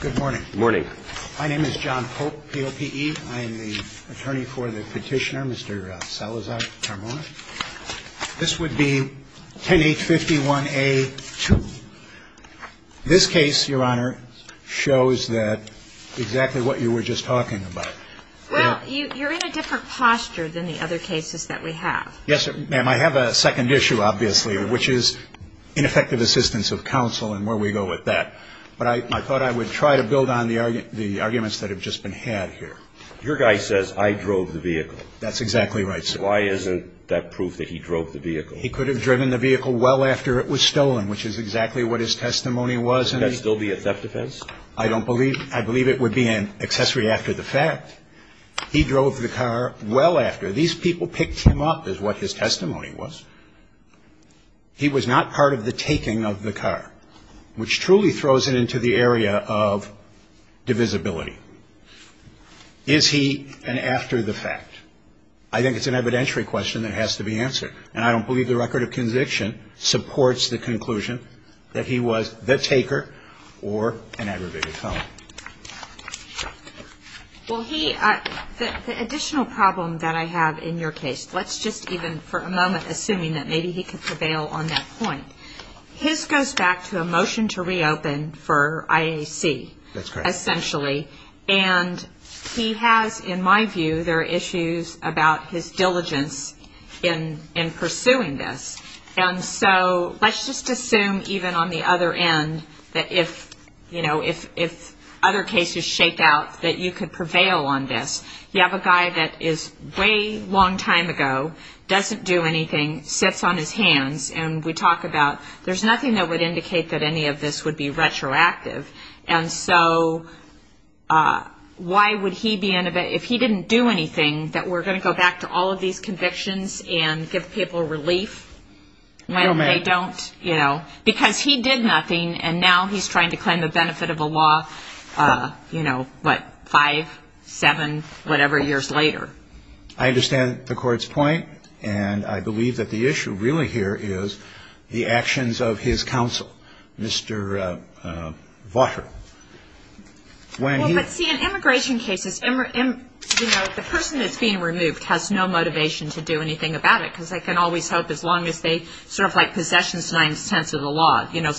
Good morning. My name is John Pope, P.O.P.E. I am the attorney for the petitioner, Mr. Salazar-Carmona. This would be 10-851-A-2. This case, Your Honor, shows that exactly what you were just talking about. Well, you're in a different posture than the other cases that we have. Yes, ma'am. I have a second issue, obviously, which is ineffective assistance of counsel and where we go with that. But I thought I would try to build on the arguments that have just been had here. Your guy says, I drove the vehicle. That's exactly right, sir. Why isn't that proof that he drove the vehicle? He could have driven the vehicle well after it was stolen, which is exactly what his testimony was. Would that still be a theft offense? I believe it would be an accessory after the fact. He drove the car well after. These people picked him up is what his testimony was. He was not part of the taking of the car, which truly throws it into the area of divisibility. Is he an after the fact? I think it's an evidentiary question that has to be answered. And I don't believe the record of conviction supports the conclusion that he was the taker or an aggravated felon. Well, he the additional problem that I have in your case, let's just even for a moment, assuming that maybe he could prevail on that point. His goes back to a motion to reopen for IAC. That's correct. And he has, in my view, there are issues about his diligence in pursuing this. And so let's just assume even on the other end that if, you know, if other cases shake out, that you could prevail on this. You have a guy that is way long time ago, doesn't do anything, sits on his hands. And we talk about there's nothing that would indicate that any of this would be retroactive. And so why would he be in a bit if he didn't do anything that we're going to go back to all of these convictions and give people relief when they don't? You know, because he did nothing. And now he's trying to claim the benefit of a law, you know, but five, seven, whatever years later. I understand the court's point. And I believe that the issue really here is the actions of his counsel. Mr. Votter. Well, let's see, in immigration cases, you know, the person that's being removed has no motivation to do anything about it, because they can always hope as long as they sort of like possessions, nine tenths of the law. You know,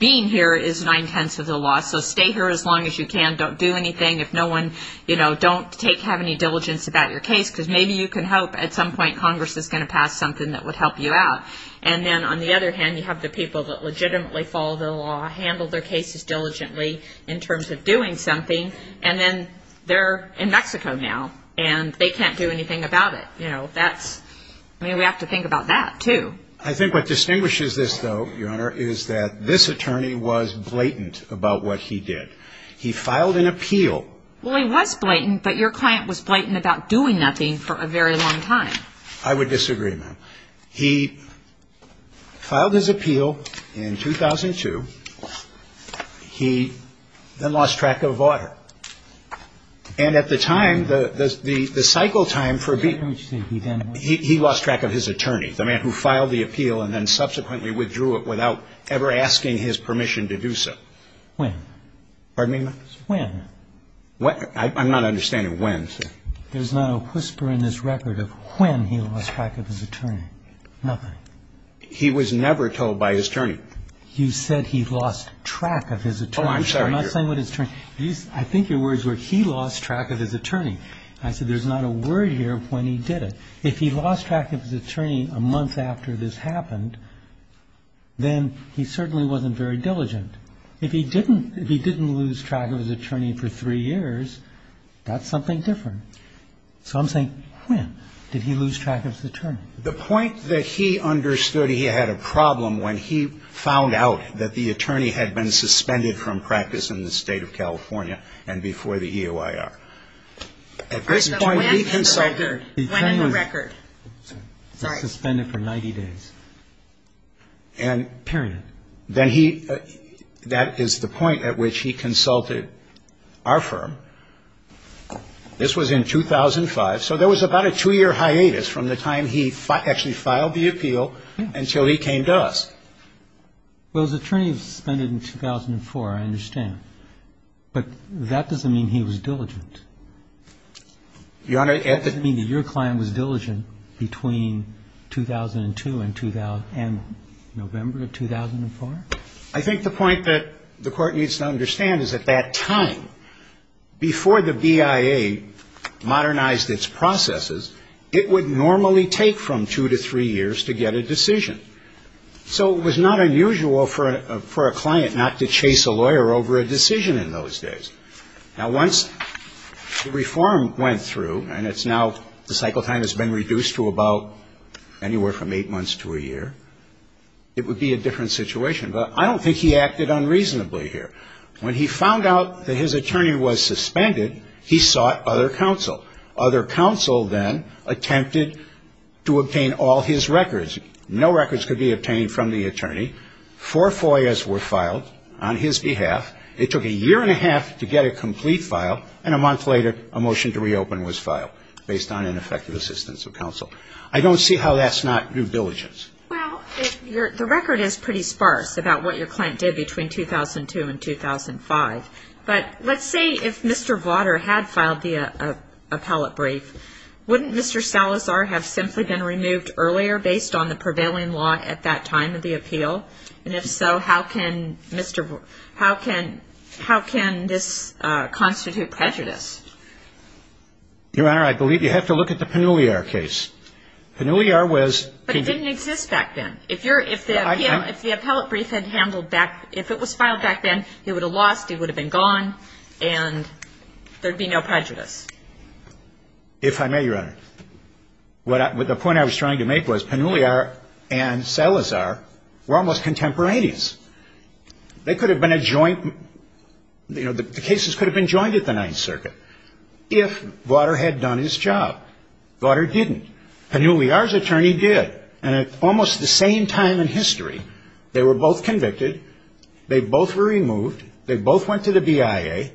being here is nine tenths of the law. So stay here as long as you can. Don't do anything. If no one, you know, don't take have any diligence about your case, because maybe you can help. At some point, Congress is going to pass something that would help you out. And then on the other hand, you have the people that legitimately follow the law, handle their cases diligently in terms of doing something. And then they're in Mexico now and they can't do anything about it. You know, that's I mean, we have to think about that, too. I think what distinguishes this, though, Your Honor, is that this attorney was blatant about what he did. He filed an appeal. Well, he was blatant, but your client was blatant about doing nothing for a very long time. I would disagree, ma'am. He filed his appeal in 2002. He then lost track of vaughter. And at the time, the cycle time for being. He lost track of his attorney, the man who filed the appeal and then subsequently withdrew it without ever asking his permission to do so. When? When? I'm not understanding when, sir. There's not a whisper in this record of when he lost track of his attorney. Nothing. He was never told by his attorney. You said he lost track of his attorney. Oh, I'm sorry, Your Honor. I'm not saying what his attorney. I think your words were he lost track of his attorney. I said there's not a word here of when he did it. If he lost track of his attorney a month after this happened, then he certainly wasn't very diligent. If he didn't lose track of his attorney for three years, that's something different. So I'm saying when did he lose track of his attorney? The point that he understood he had a problem when he found out that the attorney had been suspended from practice in the State of California and before the EOIR. At this point, leave him. It went in the record. Sorry. Suspended for 90 days. And. Period. Then he, that is the point at which he consulted our firm. This was in 2005. So there was about a two-year hiatus from the time he actually filed the appeal until he came to us. Well, his attorney was suspended in 2004, I understand. But that doesn't mean he was diligent. Your Honor. I think the point that the Court needs to understand is at that time, before the BIA modernized its processes, it would normally take from two to three years to get a decision. So it was not unusual for a client not to chase a lawyer over a decision in those days. Now, once the reform went through, and it's now, the cycle time has been reduced to three years, reduced to about anywhere from eight months to a year, it would be a different situation. But I don't think he acted unreasonably here. When he found out that his attorney was suspended, he sought other counsel. Other counsel then attempted to obtain all his records. No records could be obtained from the attorney. Four FOIAs were filed on his behalf. It took a year and a half to get a complete file. And a month later, a motion to reopen was filed based on ineffective assistance of counsel. I don't see how that's not due diligence. Well, the record is pretty sparse about what your client did between 2002 and 2005. But let's say if Mr. Vauder had filed the appellate brief, wouldn't Mr. Salazar have simply been removed earlier based on the prevailing law at that time of the appeal? And if so, how can this constitute prejudice? Your Honor, I believe you have to look at the Pannulliar case. Pannulliar was – But it didn't exist back then. If the appellate brief had handled back – if it was filed back then, he would have lost, he would have been gone, and there would be no prejudice. If I may, Your Honor. The point I was trying to make was Pannulliar and Salazar were almost contemporaneous. They could have been a joint – the cases could have been joined at the Ninth Circuit if Vauder had done his job. Vauder didn't. Pannulliar's attorney did. And at almost the same time in history, they were both convicted. They both were removed. They both went to the BIA.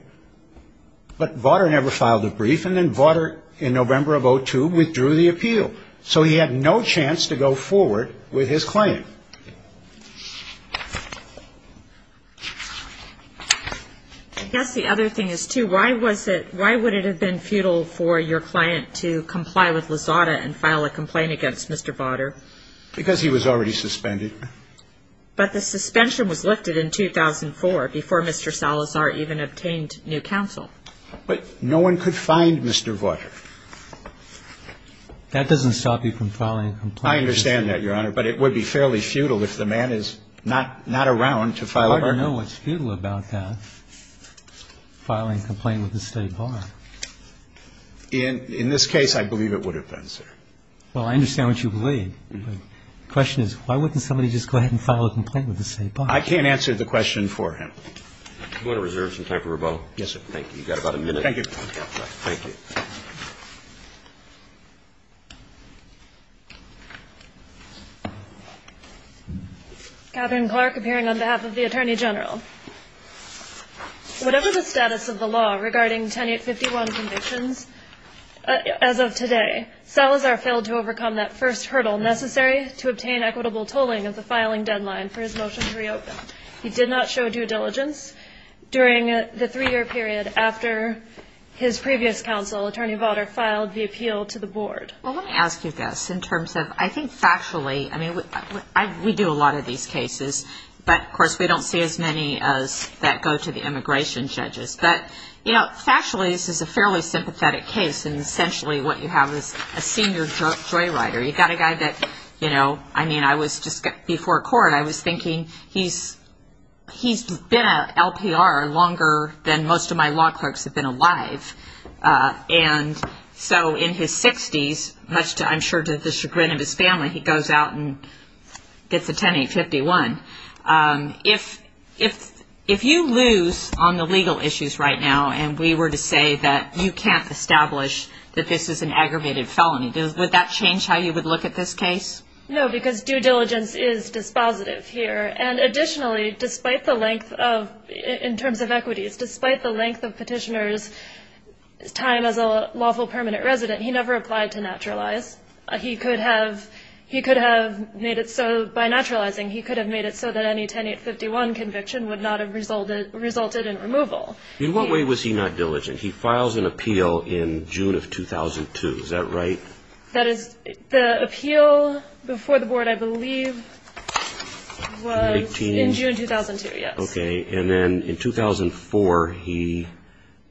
But Vauder never filed a brief, and then Vauder, in November of 2002, withdrew the appeal. So he had no chance to go forward with his claim. I guess the other thing is, too, why was it – why would it have been futile for your client to comply with Lozada and file a complaint against Mr. Vauder? Because he was already suspended. But the suspension was lifted in 2004 before Mr. Salazar even obtained new counsel. But no one could find Mr. Vauder. That doesn't stop you from filing a complaint. I understand that, Your Honor. But it would be fairly futile if the man is not around to file a complaint. I don't know what's futile about that, filing a complaint with the State Bar. In this case, I believe it would have been, sir. Well, I understand what you believe. But the question is, why wouldn't somebody just go ahead and file a complaint with the State Bar? I can't answer the question for him. Do you want to reserve some time for rebuttal? Yes, sir. Thank you. You've got about a minute. Thank you. Katherine Clark, appearing on behalf of the Attorney General. Whatever the status of the law regarding Tenet 51 convictions, as of today, Salazar failed to overcome that first hurdle necessary to obtain equitable tolling of the filing deadline for his motion to reopen. He did not show due diligence during the three-year period after his previous counsel, Attorney Vauder, filed the appeal to the board. Well, let me ask you this in terms of, I think, factually, I mean, we do a lot of these cases. But, of course, we don't see as many as that go to the immigration judges. But, you know, factually, this is a fairly sympathetic case. And, essentially, what you have is a senior joyrider. You've got a guy that, you know, I mean, I was just before court, I was thinking he's been an LPR longer than most of my law clerks have been alive. And so in his 60s, much to, I'm sure, to the chagrin of his family, he goes out and gets a Tenet 51. If you lose on the legal issues right now and we were to say that you can't establish that this is an aggravated felony, would that change how you would look at this case? No, because due diligence is dispositive here. And, additionally, despite the length of, in terms of equities, despite the length of petitioner's time as a lawful permanent resident, he never applied to naturalize. He could have made it so, by naturalizing, he could have made it so that any Tenet 51 conviction would not have resulted in removal. In what way was he not diligent? He files an appeal in June of 2002. Is that right? That is, the appeal before the board, I believe, was in June 2002, yes. Okay. And then in 2004, he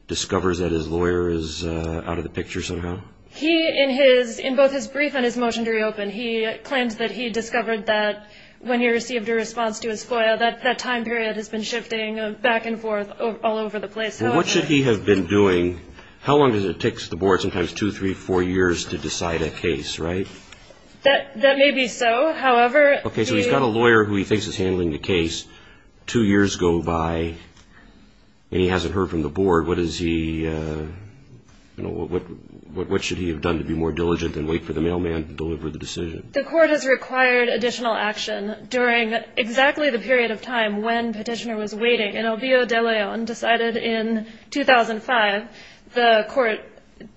discovers that his lawyer is out of the picture somehow? He, in both his brief and his motion to reopen, he claims that he discovered that when he received a response to his FOIA, that that time period has been shifting back and forth all over the place. Well, what should he have been doing? How long does it take the board sometimes two, three, four years to decide a case, right? That may be so. However, he… Okay, so he's got a lawyer who he thinks is handling the case. Two years go by, and he hasn't heard from the board. What is he… What should he have done to be more diligent than wait for the mailman to deliver the decision? The court has required additional action during exactly the period of time when Petitioner was waiting. An obvio de leon decided in 2005 the court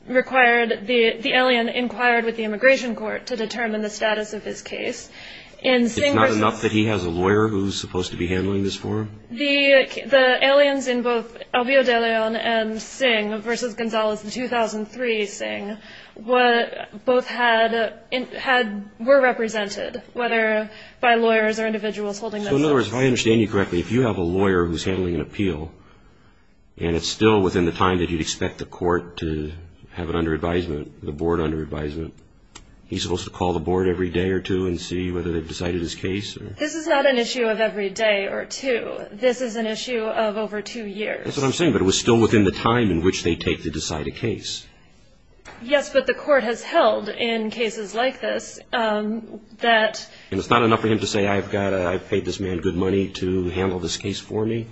required the alien inquired with the immigration court to determine the status of his case. It's not enough that he has a lawyer who's supposed to be handling this for him? The aliens in both obvio de leon and Singh v. Gonzalez in 2003, Singh, both were represented, whether by lawyers or individuals holding them. So, in other words, if I understand you correctly, if you have a lawyer who's handling an appeal, and it's still within the time that you'd expect the court to have it under advisement, the board under advisement, he's supposed to call the board every day or two and see whether they've decided his case? This is not an issue of every day or two. This is an issue of over two years. That's what I'm saying, but it was still within the time in which they take to decide a case. Yes, but the court has held in cases like this that… And it's not enough for him to say, I've paid this man good money to handle this case for me?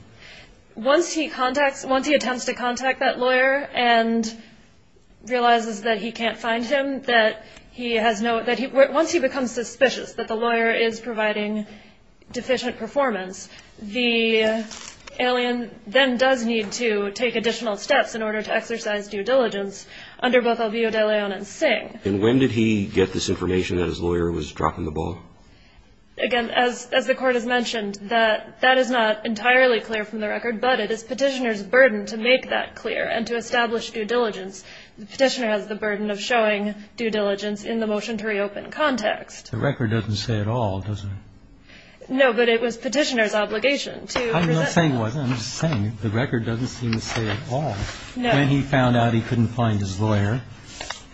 Once he attempts to contact that lawyer and realizes that he can't find him, once he becomes suspicious that the lawyer is providing deficient performance, the alien then does need to take additional steps in order to exercise due diligence under both obvio de leon and Singh. And when did he get this information that his lawyer was dropping the ball? Again, as the court has mentioned, that is not entirely clear from the record, but it is Petitioner's burden to make that clear and to establish due diligence. Petitioner has the burden of showing due diligence in the motion to reopen context. The record doesn't say it all, does it? No, but it was Petitioner's obligation to present… I'm not saying it wasn't. I'm just saying the record doesn't seem to say it all. No. When he found out he couldn't find his lawyer,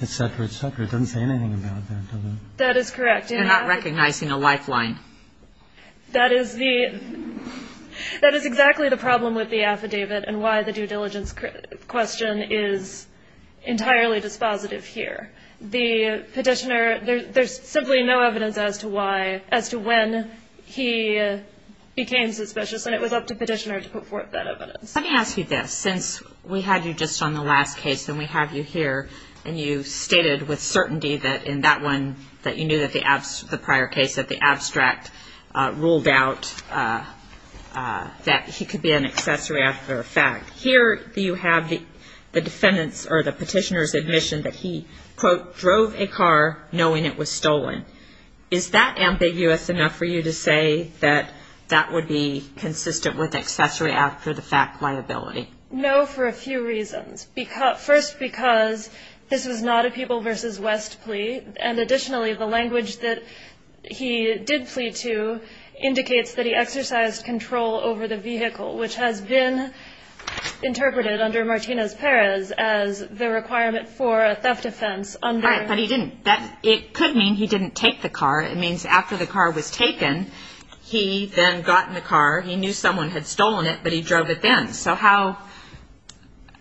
et cetera, et cetera, it doesn't say anything about that, does it? That is correct. You're not recognizing a lifeline. That is exactly the problem with the affidavit and why the due diligence question is entirely dispositive here. The Petitioner, there's simply no evidence as to when he became suspicious, and it was up to Petitioner to put forth that evidence. Let me ask you this. Since we had you just on the last case and we have you here, and you stated with certainty that in that one that you knew that the prior case, that the abstract ruled out that he could be an accessory after a fact, here you have the defendant's or the Petitioner's admission that he, quote, drove a car knowing it was stolen. Is that ambiguous enough for you to say that that would be consistent with accessory after the fact liability? No, for a few reasons. First, because this was not a People v. West plea, and additionally the language that he did plead to indicates that he exercised control over the vehicle, which has been interpreted under Martinez-Perez as the requirement for a theft offense. But he didn't. It could mean he didn't take the car. It means after the car was taken, he then got in the car. He knew someone had stolen it, but he drove it then.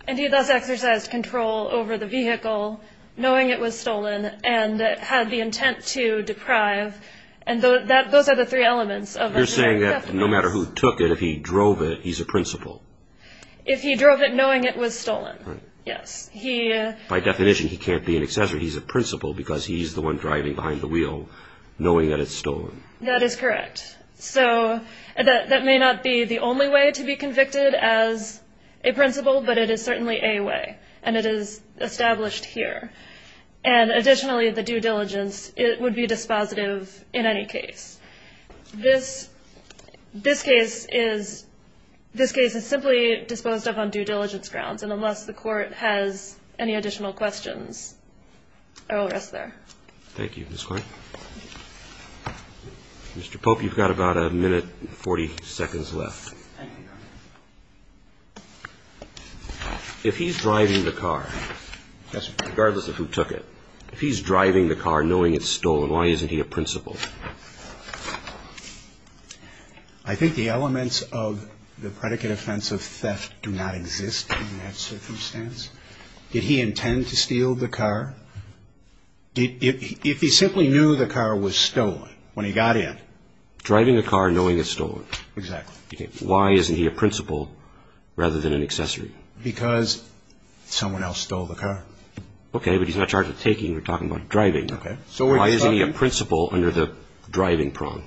And he thus exercised control over the vehicle, knowing it was stolen, and had the intent to deprive, and those are the three elements of a theft offense. You're saying that no matter who took it, if he drove it, he's a principal. If he drove it knowing it was stolen, yes. By definition, he can't be an accessory. He's a principal because he's the one driving behind the wheel knowing that it's stolen. That is correct. So that may not be the only way to be convicted as a principal, but it is certainly a way, and it is established here. And additionally, the due diligence, it would be dispositive in any case. This case is simply disposed of on due diligence grounds, and unless the Court has any additional questions, I will rest there. Thank you, Ms. Clark. Mr. Pope, you've got about a minute and 40 seconds left. Thank you, Your Honor. If he's driving the car, regardless of who took it, if he's driving the car knowing it's stolen, why isn't he a principal? I think the elements of the predicate offense of theft do not exist in that circumstance. Did he intend to steal the car? If he simply knew the car was stolen when he got in. Driving the car knowing it's stolen. Exactly. Why isn't he a principal rather than an accessory? Because someone else stole the car. Okay, but he's not charged with taking. You're talking about driving. Okay. So why isn't he a principal under the driving prong?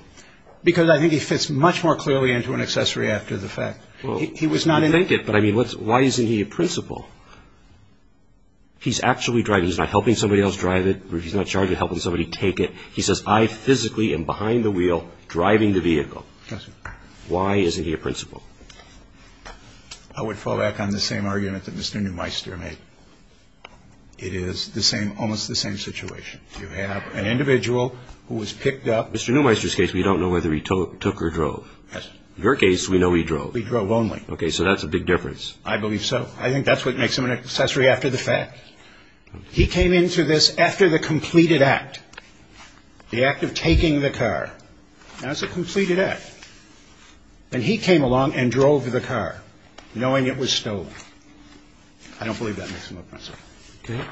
Because I think he fits much more clearly into an accessory after the fact. Well, you make it, but I mean, why isn't he a principal? He's actually driving. He's not helping somebody else drive it. He's not charged with helping somebody take it. He says, I physically am behind the wheel driving the vehicle. Yes, sir. Why isn't he a principal? I would fall back on the same argument that Mr. Neumeister made. It is the same, almost the same situation. You have an individual who was picked up. Mr. Neumeister's case, we don't know whether he took or drove. Yes, sir. Your case, we know he drove. He drove only. Okay, so that's a big difference. I believe so. I think that's what makes him an accessory after the fact. He came into this after the completed act, the act of taking the car. Now, it's a completed act. And he came along and drove the car, knowing it was stolen. I don't believe that makes him a principal. Okay.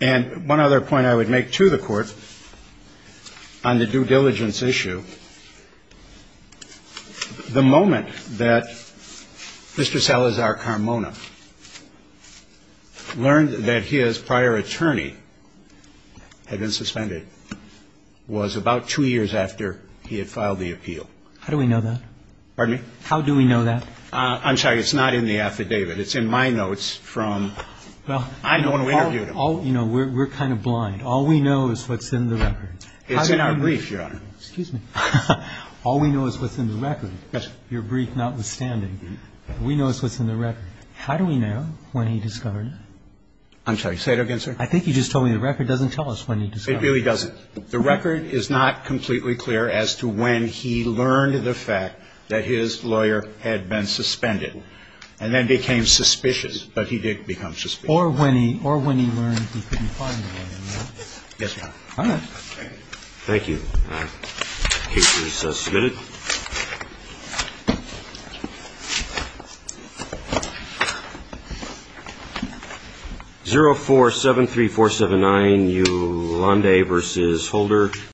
And one other point I would make to the Court on the due diligence issue, the moment that Mr. Salazar Carmona learned that his prior attorney had been suspended was about two years after he had filed the appeal. How do we know that? Pardon me? How do we know that? I'm sorry. It's not in the affidavit. It's in my notes from when I interviewed him. Well, you know, we're kind of blind. All we know is what's in the record. It's in our brief, Your Honor. Excuse me. All we know is what's in the record. Yes, sir. Your brief notwithstanding. We know what's in the record. How do we know when he discovered it? I'm sorry. Say it again, sir. I think you just told me the record doesn't tell us when he discovered it. It really doesn't. The record is not completely clear as to when he learned the fact that his lawyer had been suspended and then became suspicious. But he did become suspicious. Or when he learned he couldn't find the lawyer. Yes, Your Honor. All right. Thank you. Case is submitted. 0473479, Ulande v. Holder.